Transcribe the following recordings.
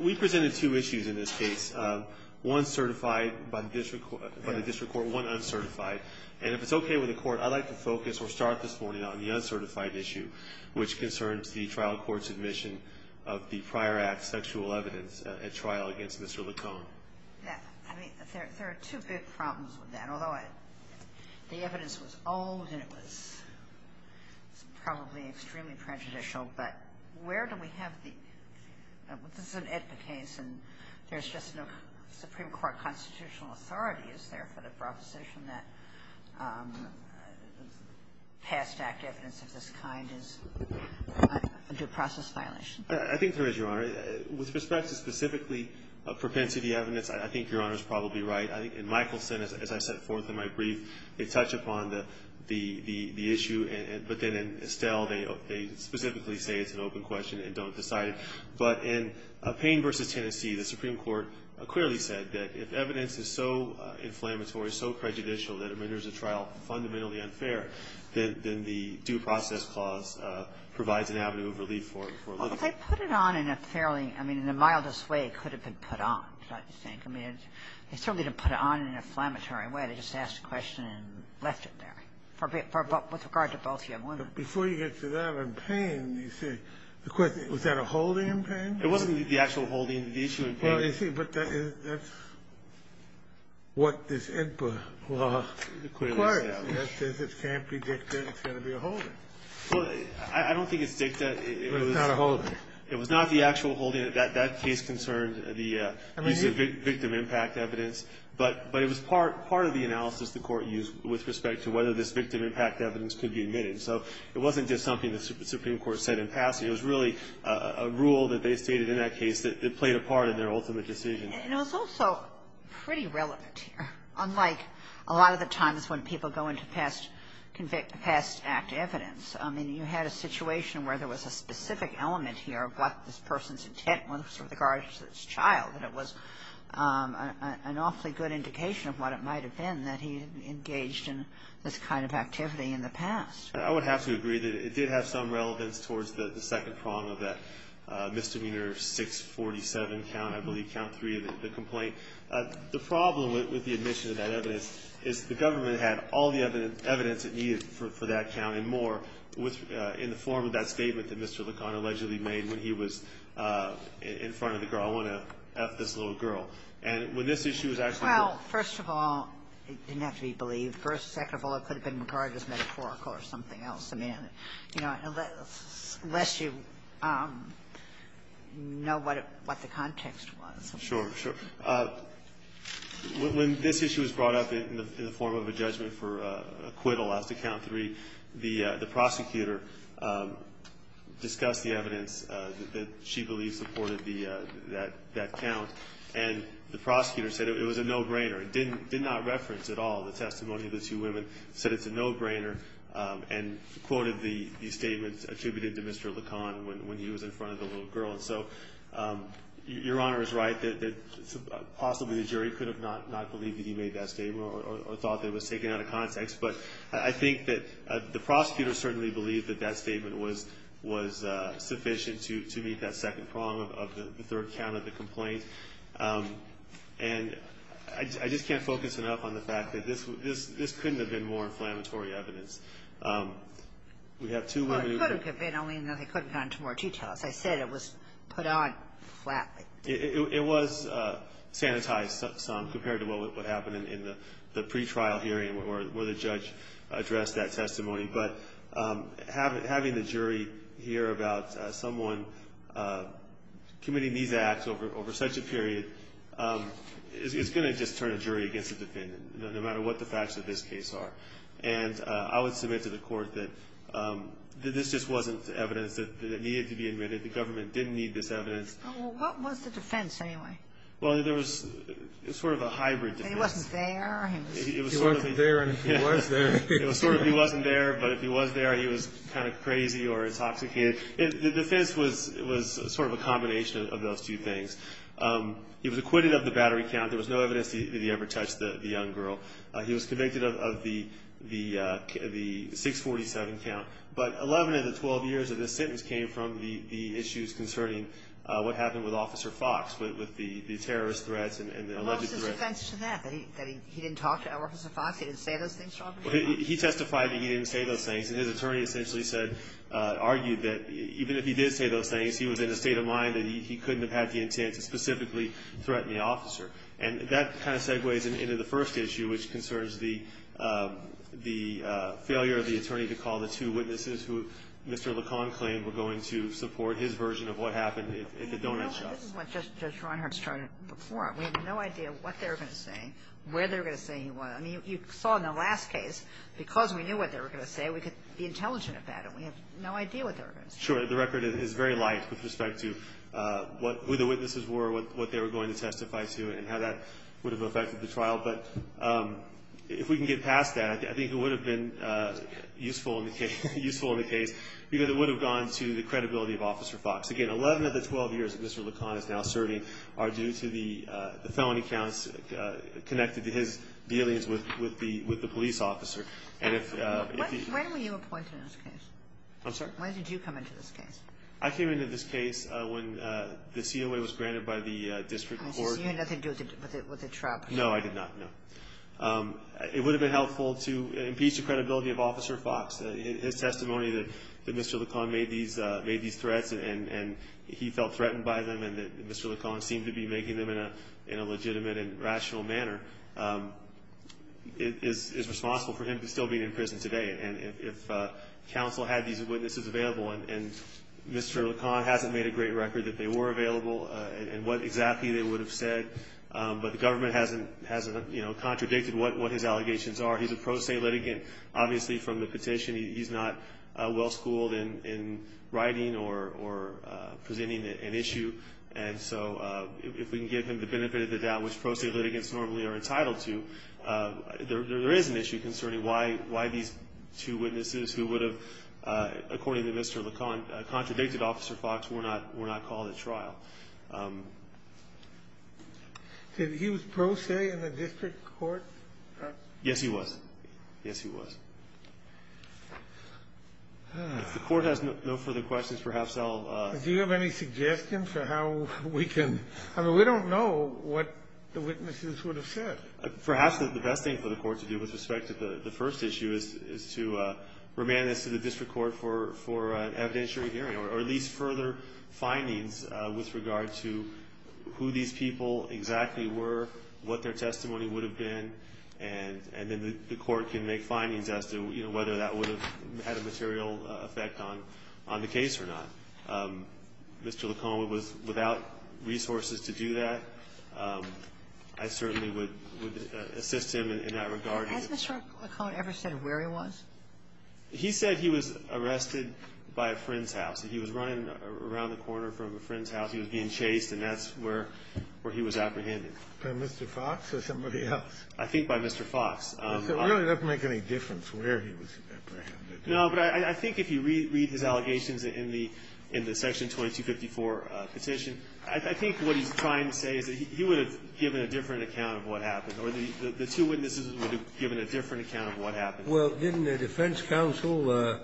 We presented two issues in this case, one certified by the district court and one uncertified. And if it's okay with the court, I'd like to focus or start this morning on the uncertified issue, which concerns the trial court's admission of the prior act sexual evidence at trial against Mr. Licon. I mean, there are two big problems with that. Although the evidence was old and it was probably extremely prejudicial, but where do we have the – this is an AEDPA case and there's just no Supreme Court constitutional authority. Is there for the proposition that past act evidence of this kind is a due process violation? I think there is, Your Honor. With respect to specifically propensity evidence, I think Your Honor is probably right. In Michelson, as I set forth in my brief, they touch upon the issue, but then in Estelle, they specifically say it's an open question and don't decide it. But in Payne v. Tennessee, the Supreme Court clearly said that if evidence is so inflammatory, so prejudicial that it renders the trial fundamentally unfair, then the due process clause provides an avenue of relief for Licon. Well, they put it on in a fairly – I mean, in the mildest way, it could have been put on, I think. I mean, they certainly didn't put it on in an inflammatory way. They just asked a question and left it there, with regard to both young women. But before you get to that, in Payne, you say, of course, was that a holding in Payne? It wasn't the actual holding, the issue in Payne. Well, you see, but that's what this AEDPA law clearly established. It says it can't be dicta, it's going to be a holding. Well, I don't think it's dicta. It was not a holding. It was not the actual holding. That case concerned the use of victim impact evidence. But it was part of the analysis the Court used with respect to whether this victim impact evidence could be admitted. So it wasn't just something the Supreme Court said in passing. It was really a rule that they stated in that case that played a part in their ultimate decision. And it was also pretty relevant here, unlike a lot of the times when people go into past act evidence. I mean, you had a situation where there was a specific element here of what this person's intent was with regard to this child. And it was an awfully good indication of what it might have been that he had engaged in this kind of activity in the past. I would have to agree that it did have some relevance towards the second prong of that misdemeanor 647 count, I believe, count 3 of the complaint. The problem with the admission of that evidence is the government had all the evidence it needed for that count and more in the form of that statement that Mr. LeCon allegedly made when he was in front of the girl, I want to F this little girl. And when this issue was actually brought up. Well, first of all, it didn't have to be believed. First, second of all, it could have been regarded as metaphorical or something else. I mean, you know, unless you know what the context was. Sure. Sure. When this issue was brought up in the form of a judgment for acquittal after count 3, the prosecutor discussed the evidence that she believed supported that count. And the prosecutor said it was a no-brainer. It did not reference at all the testimony of the two women, said it's a no-brainer. And quoted the statements attributed to Mr. LeCon when he was in front of the little girl. And so Your Honor is right that possibly the jury could have not believed that he made that statement or thought that it was taken out of context. But I think that the prosecutor certainly believed that that statement was sufficient to meet that second prong of the third count of the complaint. And I just can't focus enough on the fact that this couldn't have been more inflammatory evidence. Well, it could have been, only in that they couldn't have gone into more detail. As I said, it was put on flatly. It was sanitized some compared to what happened in the pretrial hearing where the judge addressed that testimony. But having the jury hear about someone committing these acts over such a period is going to just turn a jury against a defendant, no matter what the facts of this case are. And I would submit to the Court that this just wasn't evidence that needed to be admitted. The government didn't need this evidence. Well, what was the defense anyway? Well, there was sort of a hybrid defense. He wasn't there. He wasn't there and he was there. It was sort of he wasn't there, but if he was there, he was kind of crazy or intoxicated. The defense was sort of a combination of those two things. He was acquitted of the battery count. There was no evidence that he ever touched the young girl. He was convicted of the 647 count. But 11 of the 12 years of this sentence came from the issues concerning what happened with Officer Fox, with the terrorist threats and the alleged threats. What was his defense to that, that he didn't talk to Officer Fox, he didn't say those things to Officer Fox? He testified that he didn't say those things. And his attorney essentially said, argued that even if he did say those things, he was in a state of mind that he couldn't have had the intent to specifically threaten the officer. And that kind of segues into the first issue, which concerns the failure of the attorney to call the two witnesses who Mr. Lacan claimed were going to support his version of what happened at the donut shop. But this is what Justice Reinhart started before. We have no idea what they were going to say, where they were going to say he was. I mean, you saw in the last case, because we knew what they were going to say, we could be intelligent about it. We have no idea what they were going to say. Sure. The record is very light with respect to who the witnesses were, what they were going to testify to, and how that would have affected the trial. But if we can get past that, I think it would have been useful in the case, because it would have gone to the credibility of Officer Fox. Again, 11 of the 12 years that Mr. Lacan is now serving are due to the felony counts connected to his dealings with the police officer. When were you appointed in this case? I'm sorry? When did you come into this case? I came into this case when the COA was granted by the district court. You had nothing to do with the trial. No, I did not, no. It would have been helpful to impeach the credibility of Officer Fox. His testimony that Mr. Lacan made these threats and he felt threatened by them and that Mr. Lacan seemed to be making them in a legitimate and rational manner is responsible for him still being in prison today. If counsel had these witnesses available and Mr. Lacan hasn't made a great record that they were available and what exactly they would have said, but the government hasn't contradicted what his allegations are. He's a pro se litigant, obviously from the petition. He's not well schooled in writing or presenting an issue. And so if we can give him the benefit of the doubt, which pro se litigants normally are entitled to, there is an issue concerning why these two witnesses who would have, according to Mr. Lacan, contradicted Officer Fox were not called at trial. Did he was pro se in the district court? Yes, he was. Yes, he was. If the court has no further questions, perhaps I'll... Do you have any suggestions for how we can... I mean, we don't know what the witnesses would have said. Perhaps the best thing for the court to do with respect to the first issue is to remand this to the district court for an evidentiary hearing or at least further findings with regard to who these people exactly were, what their testimony would have been, and then the court can make findings as to whether that would have had a material effect on the case or not. Mr. Lacan was without resources to do that. I certainly would assist him in that regard. Has Mr. Lacan ever said where he was? He said he was arrested by a friend's house. He was running around the corner from a friend's house. He was being chased, and that's where he was apprehended. By Mr. Fox or somebody else? I think by Mr. Fox. It really doesn't make any difference where he was apprehended. No, but I think if you read his allegations in the Section 2254 petition, I think what he's trying to say is that he would have given a different account of what happened or the two witnesses would have given a different account of what happened. Well, didn't the defense counsel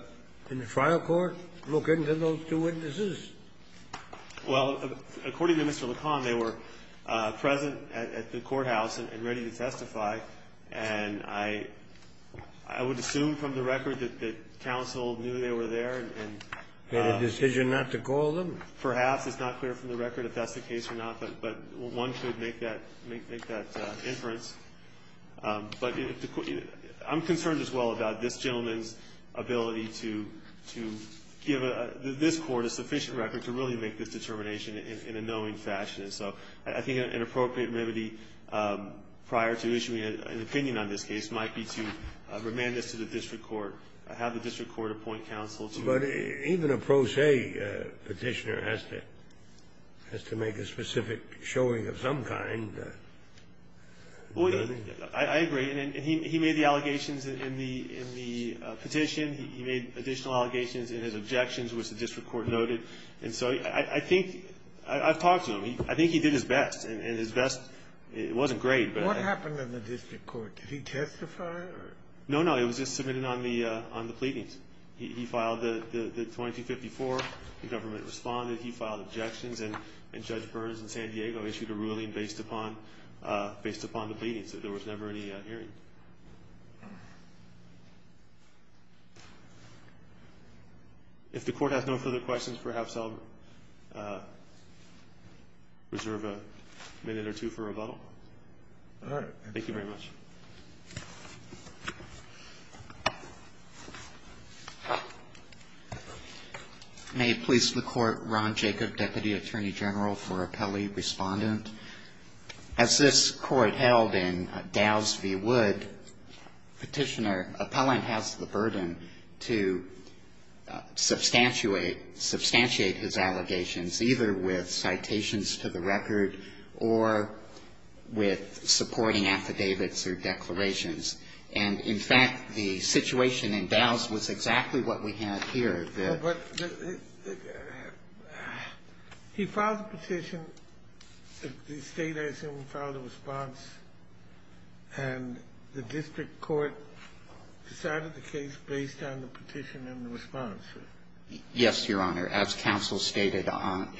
in the trial court look into those two witnesses? Well, according to Mr. Lacan, they were present at the courthouse and ready to testify, and I would assume from the record that the counsel knew they were there and... Had a decision not to call them? Perhaps. It's not clear from the record if that's the case or not, but one could make that inference. But I'm concerned as well about this gentleman's ability to give this Court a sufficient record to really make this determination in a knowing fashion. So I think an appropriate remedy prior to issuing an opinion on this case might be to remand this to the district court, have the district court appoint counsel that has to make a specific showing of some kind. Well, I agree. And he made the allegations in the petition. He made additional allegations in his objections, which the district court noted. And so I think I've talked to him. I think he did his best, and his best wasn't great. What happened in the district court? Did he testify? No, no. It was just submitted on the pleadings. He filed the 2254. The government responded. He filed objections. And Judge Burns in San Diego issued a ruling based upon the pleadings. There was never any hearing. If the Court has no further questions, perhaps I'll reserve a minute or two for rebuttal. All right. Thank you very much. May it please the Court, Ron Jacob, Deputy Attorney General for Appellee-Respondent. As this Court held in Dows v. Wood, Petitioner, Appellant has the burden to substantiate his allegations, either with citations to the record or with supporting affidavits or declarations. And, in fact, the situation in Dows was exactly what we have here. He filed the petition. The State, I assume, filed a response. And the district court decided the case based on the petition and the response. Yes, Your Honor. As counsel stated,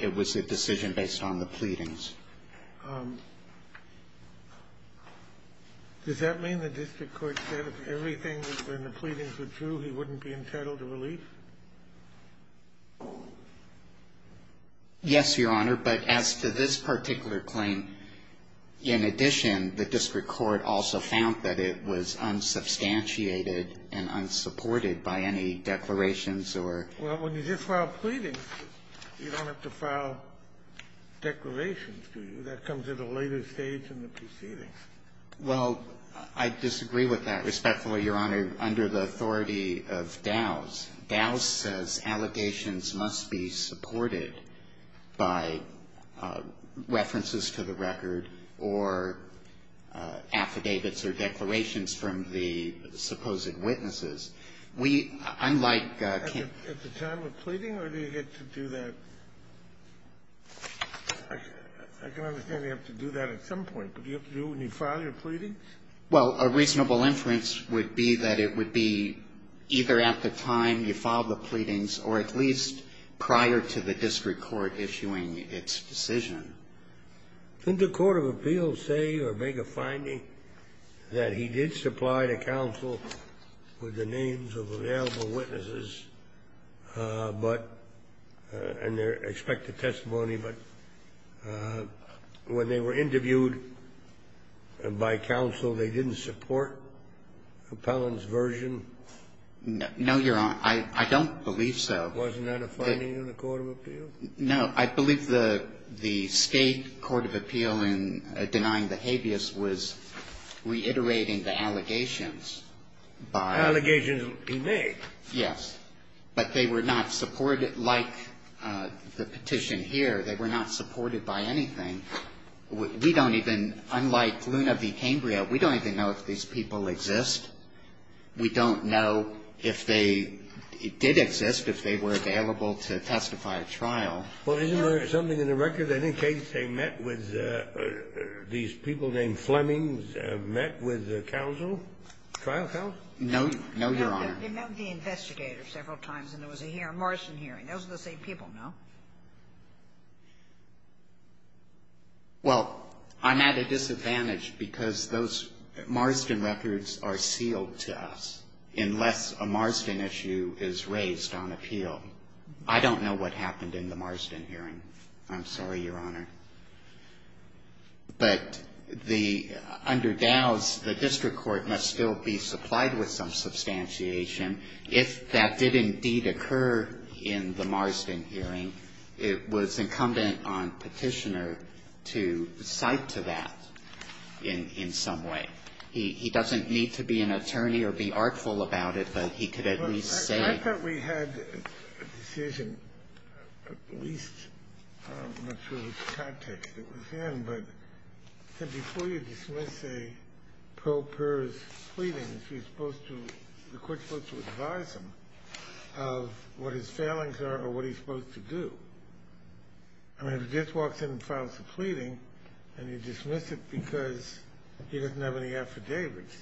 it was a decision based on the pleadings. Does that mean the district court said if everything was in the pleadings were true, he wouldn't be entitled to relief? Yes, Your Honor. But as to this particular claim, in addition, the district court also found that it was unsubstantiated and unsupported by any declarations or ---- Well, when you just file pleadings, you don't have to file declarations, do you? That comes at a later stage in the proceedings. Well, I disagree with that, respectfully, Your Honor. Under the authority of Dows, Dows says allegations must be supported by references to the record or affidavits or declarations from the supposed witnesses. We, unlike ---- At the time of pleading, or do you get to do that? I can understand you have to do that at some point. But do you have to do it when you file your pleadings? Well, a reasonable inference would be that it would be either at the time you filed the pleadings or at least prior to the district court issuing its decision. Didn't the court of appeals say or make a finding that he did supply to counsel with the names of available witnesses, but ---- and their expected testimony, but when they were interviewed by counsel, they didn't support Appellant's version? No, Your Honor. I don't believe so. Wasn't that a finding in the court of appeals? No. I believe the state court of appeal in denying the habeas was reiterating the allegations by ---- Allegations he made. Yes. But they were not supported like the petition here. They were not supported by anything. We don't even, unlike Luna v. Cambria, we don't even know if these people exist. We don't know if they did exist, if they were available to testify at trial. Well, isn't there something in the record that in case they met with these people named Flemings, met with the counsel, trial counsel? No. No, Your Honor. They met with the investigator several times, and there was a Marston hearing. Those are the same people, no? Well, I'm at a disadvantage because those Marston records are sealed to us, unless a Marston issue is raised on appeal. I don't know what happened in the Marston hearing. I'm sorry, Your Honor. But under Dow's, the district court must still be supplied with some substantiation if that did indeed occur in the Marston hearing. It was incumbent on Petitioner to cite to that in some way. He doesn't need to be an attorney or be artful about it, but he could at least say. Well, I thought we had a decision at least, I'm not sure which context it was in, but before you dismiss a pro-PERS pleading, you're supposed to, the court's supposed to advise him of what his failings are or what he's supposed to do. I mean, if he just walks in and files a pleading, and you dismiss it because he doesn't have any affidavits,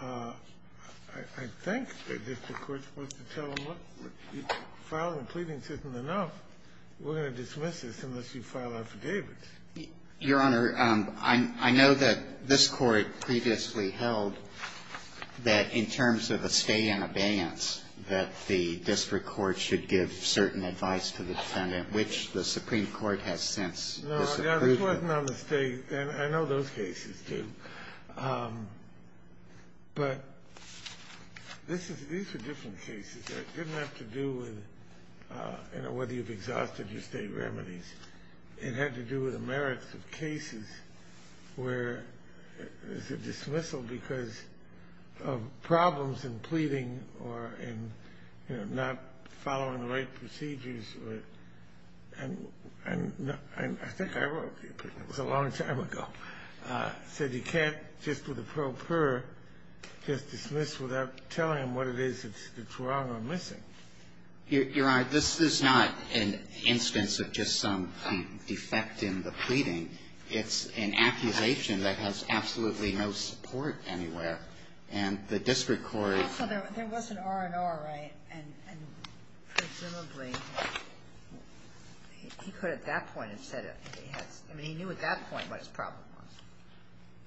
I think the district court's supposed to tell him, look, filing a pleading isn't enough. We're going to dismiss this unless you file affidavits. Your Honor, I know that this Court previously held that in terms of a stay-in abeyance, that the district court should give certain advice to the defendant, which the Supreme Court has since disapproved of. No, this wasn't on the State, and I know those cases do. But this is, these are different cases. It didn't have to do with, you know, whether you've exhausted your State remedies. It had to do with the merits of cases where there's a dismissal because of problems in pleading or in, you know, not following the right procedures. And I think I wrote, it was a long time ago, said you can't just with a pro-PER just dismiss without telling him what it is that's wrong or missing. Your Honor, this is not an instance of just some defect in the pleading. It's an accusation that has absolutely no support anywhere. And the district court ---- Also, there was an R&R, right? And presumably, he could at that point have said it. I mean, he knew at that point what his problem was.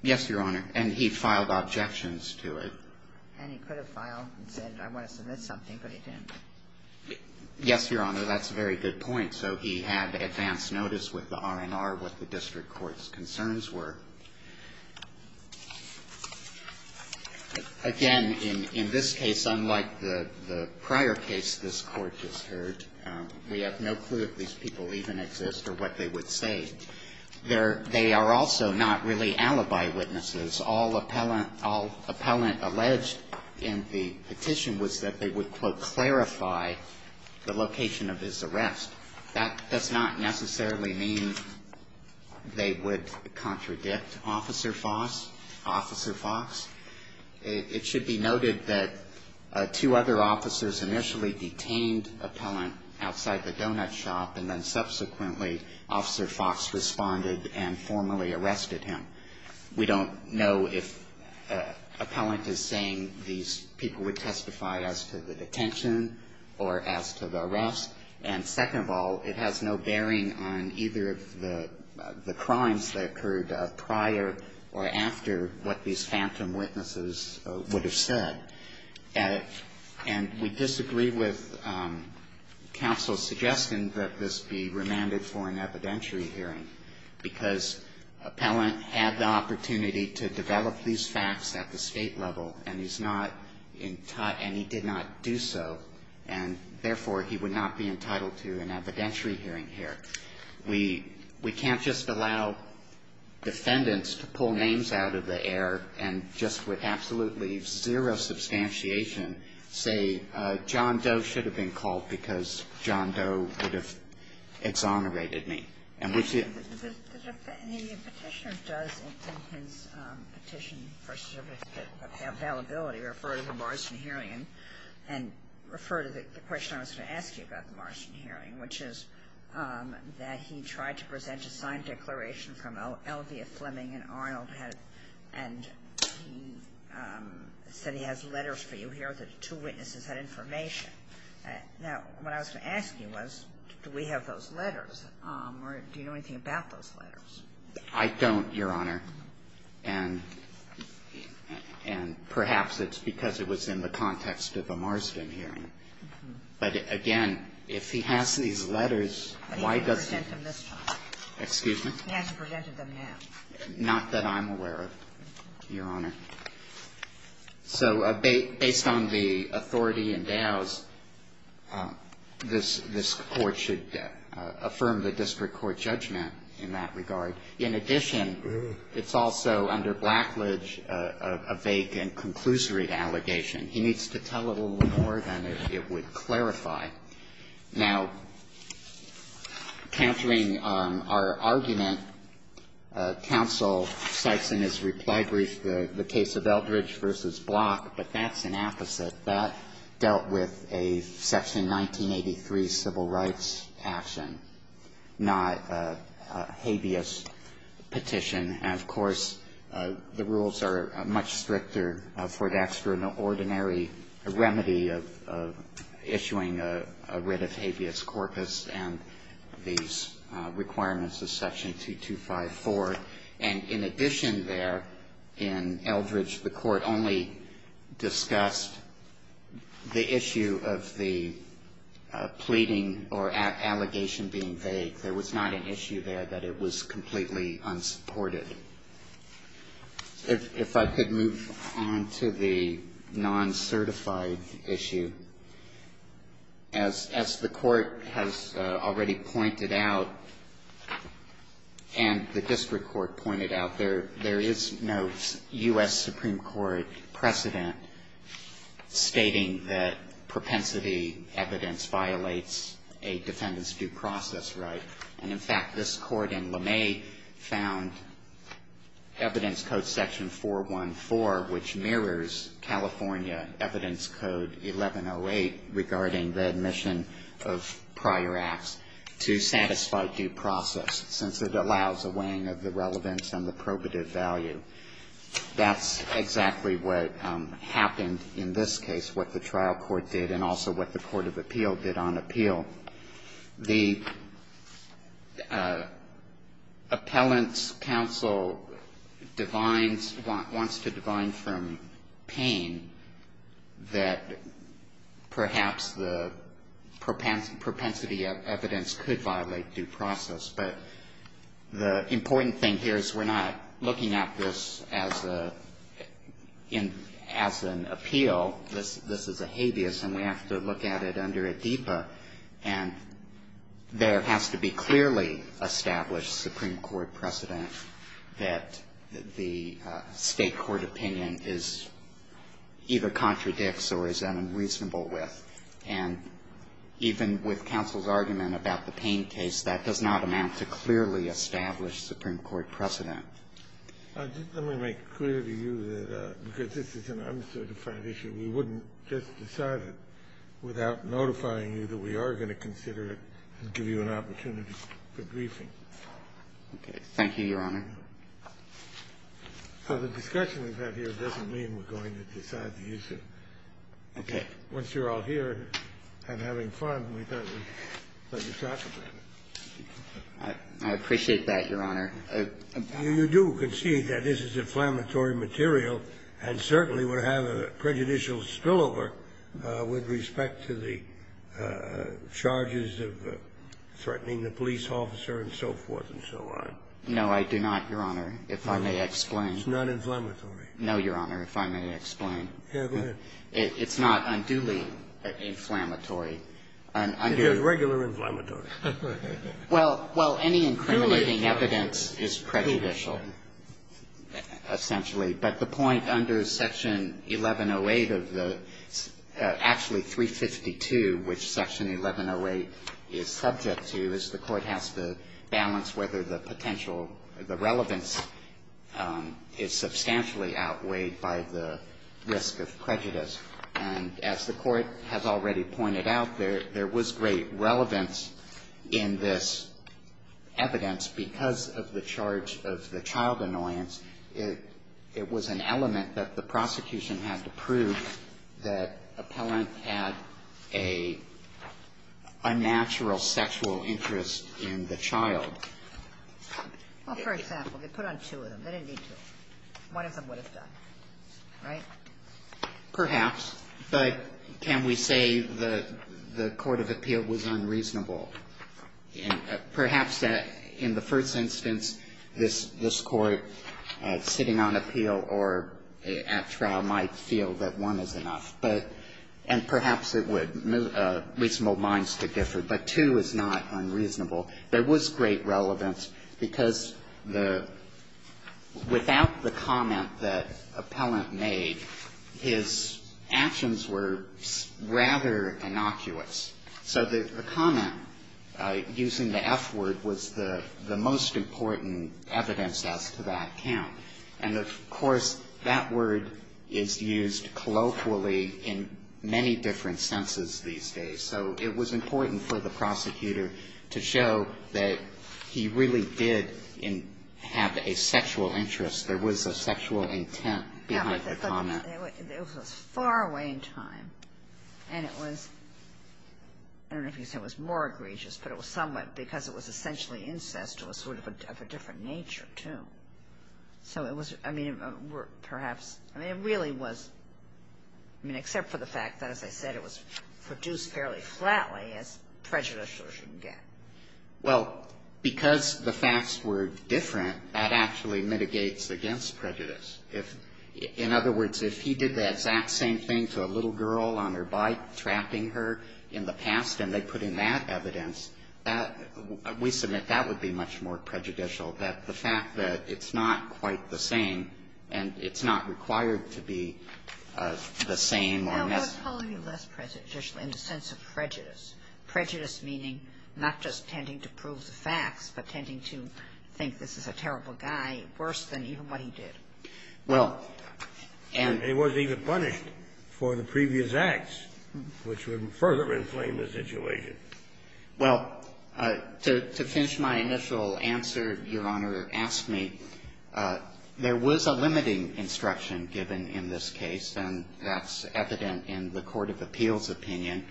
Yes, Your Honor. And he filed objections to it. And he could have filed and said I want to submit something, but he didn't. Yes, Your Honor. That's a very good point. So he had advance notice with the R&R what the district court's concerns were. Again, in this case, unlike the prior case this Court just heard, we have no clue if these people even exist or what they would say. They are also not really alibi witnesses. All appellant alleged in the petition was that they would, quote, clarify the location of his arrest. That does not necessarily mean they would contradict Officer Foss, Officer Fox. It should be noted that two other officers initially detained appellant outside the donut shop, and then subsequently, Officer Fox responded and formally arrested him. We don't know if appellant is saying these people would testify as to the detention or as to the arrest. And second of all, it has no bearing on either of the crimes that occurred prior or after what these phantom witnesses would have said. And we disagree with counsel's suggestion that this be remanded for an evidentiary hearing, because appellant had the opportunity to develop these facts at the State level and he's not entitled, and he did not do so, and therefore, he would not be entitled to an evidentiary hearing here. We can't just allow defendants to pull names out of the air and just with absolutely zero substantiation say, John Doe should have been called because John Doe would have exonerated me. And which the ---- The Petitioner does in his Petition for Certificate of Availability refer to the Morrison hearing and refer to the question I was going to ask you about the Morrison hearing, which is that he tried to present a signed declaration from Elvia Fleming and Arnold and he said he has letters for you here that the two witnesses had information. Now, what I was going to ask you was, do we have those letters, or do you know anything about those letters? I don't, Your Honor. And perhaps it's because it was in the context of a Marsden hearing. But again, if he has these letters, why doesn't he? But he presented them this time. Excuse me? He hasn't presented them yet. Not that I'm aware of, Your Honor. So based on the authority endows, this Court should affirm the district court judgment in that regard. In addition, it's also under blackledge a vague and conclusory allegation. He needs to tell a little more than it would clarify. Now, countering our argument, counsel cites in his reply brief the Petitioner's case of Eldridge v. Block, but that's an opposite. That dealt with a Section 1983 civil rights action, not a habeas petition. And, of course, the rules are much stricter for an extraordinary remedy of issuing a writ of habeas corpus and these requirements of Section 2254. And in addition there, in Eldridge, the Court only discussed the issue of the pleading or allegation being vague. There was not an issue there that it was completely unsupported. If I could move on to the non-certified issue. As the Court has already pointed out, and the district court pointed out, there is no U.S. Supreme Court precedent stating that propensity evidence violates a defendant's due process right. And, in fact, this Court in LeMay found Evidence Code Section 414, which mirrors California Evidence Code 1108 regarding the admission of prior acts, to satisfy due process, since it allows a weighing of the relevance and the probative value. That's exactly what happened in this case, what the trial court did, and also what the court of appeal did on appeal. The appellant's counsel wants to divine from pain that perhaps the propensity of evidence could violate due process. But the important thing here is we're not looking at this as an appeal. This is a habeas, and we have to look at it under ad deba. And there has to be clearly established Supreme Court precedent that the State Court opinion is either contradicts or is unreasonable with. And even with counsel's argument about the pain case, that does not amount to clearly established Supreme Court precedent. Let me make it clear to you that because this is an uncertified issue, we wouldn't just decide it without notifying you that we are going to consider it and give you an opportunity for briefing. Okay. Thank you, Your Honor. So the discussion we've had here doesn't mean we're going to decide the issue. Okay. Once you're all here and having fun, we thought we'd let you talk about it. I appreciate that, Your Honor. You do concede that this is inflammatory material and certainly would have a prejudicial spillover with respect to the charges of threatening the police officer and so forth and so on. No, I do not, Your Honor, if I may explain. It's not inflammatory. No, Your Honor, if I may explain. Yes, go ahead. It's not unduly inflammatory. It is regular inflammatory. Well, any incriminating evidence is prejudicial, essentially. But the point under Section 1108 of the actually 352, which Section 1108 is subject to, is the court has to balance whether the potential, the relevance is substantially outweighed by the risk of prejudice. And as the court has already pointed out, there was great relevance in this evidence because of the charge of the child annoyance. It was an element that the prosecution had to prove that appellant had a unnatural sexual interest in the child. Well, for example, they put on two of them. They didn't need two. One of them would have done, right? Perhaps. But can we say the court of appeal was unreasonable? Perhaps in the first instance, this Court sitting on appeal or at trial might feel that one is enough. But, and perhaps it would, reasonable minds to differ. But two is not unreasonable. There was great relevance because the, without the comment that appellant made, his actions were rather innocuous. So the comment using the F word was the most important evidence as to that count. And of course, that word is used colloquially in many different senses these days. So it was important for the prosecutor to show that he really did have a sexual interest. There was a sexual intent behind the comment. It was far away in time. And it was, I don't know if you can say it was more egregious, but it was somewhat because it was essentially incest. It was sort of a different nature, too. So it was, I mean, perhaps, I mean, it really was, I mean, except for the fact that, as I said, it was produced fairly flatly, as prejudicial as you can get. Well, because the facts were different, that actually mitigates against prejudice. If, in other words, if he did the exact same thing to a little girl on her bike, trapping her in the past, and they put in that evidence, that, we submit that would be much more prejudicial, that the fact that it's not quite the same and it's not required to be the same or a mess. No, it was probably less prejudicial in the sense of prejudice, prejudice meaning not just tending to prove the facts, but tending to think this is a terrible guy worse than even what he did. Well, and It wasn't even punished for the previous acts, which would further inflame the situation. Well, to finish my initial answer, Your Honor, ask me, there was a limiting instruction given in this case, and that's evident in the court of appeals' opinion,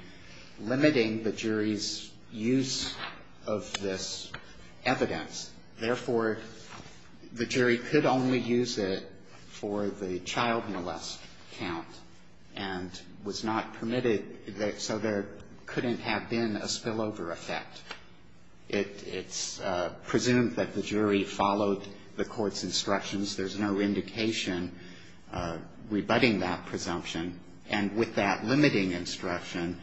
limiting the jury's use of this evidence. Therefore, the jury could only use it for the child molest count and was not permitted so there couldn't have been a spillover effect. It's presumed that the jury followed the court's instructions. There's no indication rebutting that presumption. And with that limiting instruction,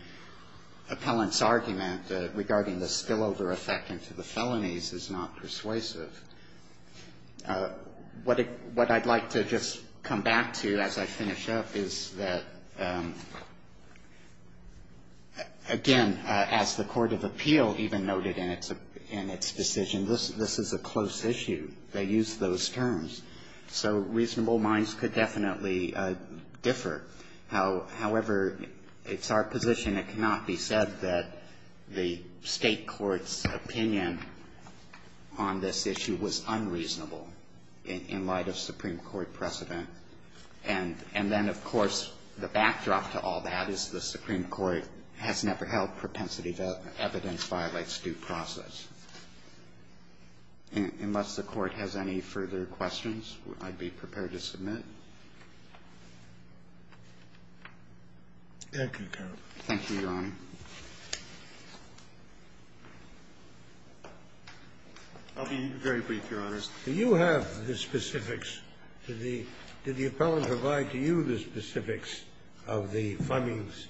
appellant's argument regarding the spillover effect into the felonies is not persuasive. What I'd like to just come back to as I finish up is that, again, as the court of appeal even noted in its decision, this is a close issue. They used those terms. So reasonable minds could definitely differ. However, it's our position it cannot be said that the State court's opinion on this issue was unreasonable in light of Supreme Court precedent. And then, of course, the backdrop to all that is the Supreme Court has never held propensity that evidence violates due process. Unless the Court has any further questions, I'd be prepared to submit. Thank you, Your Honor. I'll be very brief, Your Honor. Do you have the specifics? Did the appellant provide to you the specifics of the funding's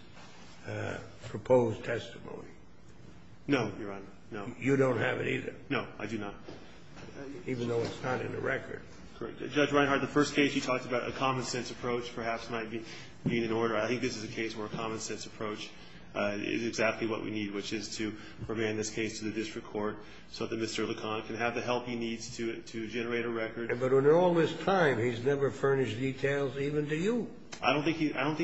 proposed testimony? No, Your Honor, no. You don't have it either? No, I do not. Even though it's not in the record. Correct. Judge Reinhart, the first case you talked about, a common-sense approach perhaps might be in order. I think this is a case where a common-sense approach is exactly what we need, which is to remand this case to the district court so that Mr. LeCon can have the help he needs to generate a record. But in all this time, he's never furnished details even to you. I don't think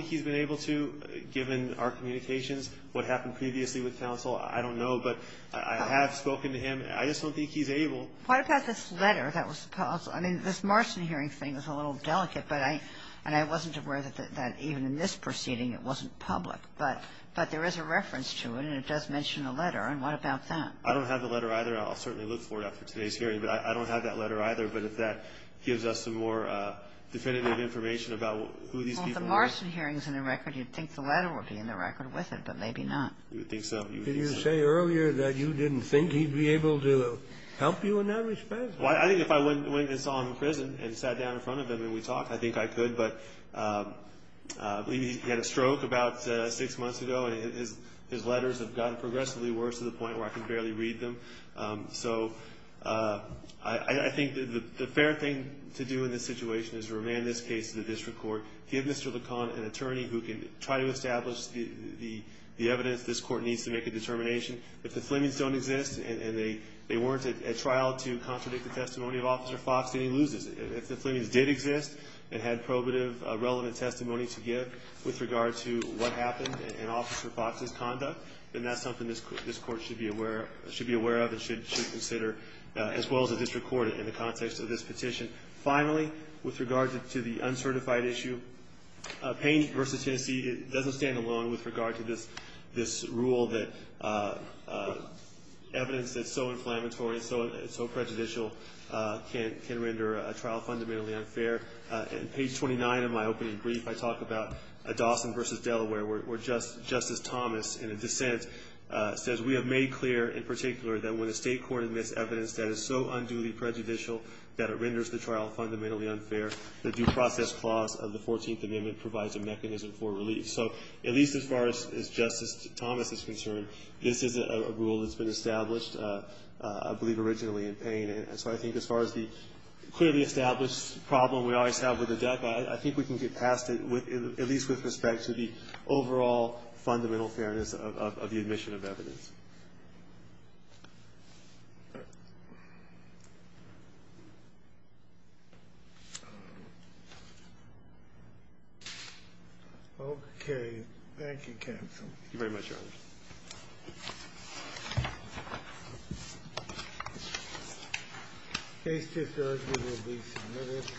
he's been able to, given our communications, what happened previously with counsel. I don't know, but I have spoken to him. I just don't think he's able. What about this letter that was proposed? I mean, this Marston hearing thing was a little delicate, and I wasn't aware that even in this proceeding it wasn't public. But there is a reference to it, and it does mention a letter. And what about that? I don't have the letter either. I'll certainly look for it after today's hearing. But I don't have that letter either. But if that gives us some more definitive information about who these people are. Well, if the Marston hearing is in the record, you'd think the letter would be in the record with it, but maybe not. You would think so. Did you say earlier that you didn't think he'd be able to help you in that respect? Well, I think if I went and saw him in prison and sat down in front of him and we talked, I think I could. But I believe he had a stroke about six months ago, and his letters have gotten progressively worse to the point where I can barely read them. So I think the fair thing to do in this situation is to remand this case to the district court, give Mr. LeCon an attorney who can try to establish the evidence this court needs to make a determination. If the Flemings don't exist and they weren't at trial to contradict the testimony of Officer Fox, then he loses. If the Flemings did exist and had probative, relevant testimony to give with regard to what happened in Officer Fox's conduct, then that's something this court should be aware of and should consider as well as the district court in the context of this petition. Finally, with regard to the uncertified issue, Payne v. Tennessee doesn't stand alone with regard to this rule that evidence that's so inflammatory and so prejudicial can render a trial fundamentally unfair. On page 29 of my opening brief, I talk about Dawson v. Delaware, where Justice Thomas, in a dissent, says, We have made clear, in particular, that when a state court admits evidence that is so unduly prejudicial that it renders the trial fundamentally unfair, the due process clause of the 14th Amendment provides a mechanism for relief. So at least as far as Justice Thomas is concerned, this is a rule that's been established, I believe, originally in Payne. And so I think as far as the clearly established problem we always have with the deck, I think we can get past it, at least with respect to the overall fundamental fairness of the admission of evidence. Thank you. OK, thank you, counsel. Thank you very much, Your Honor. Case discussed and will be submitted.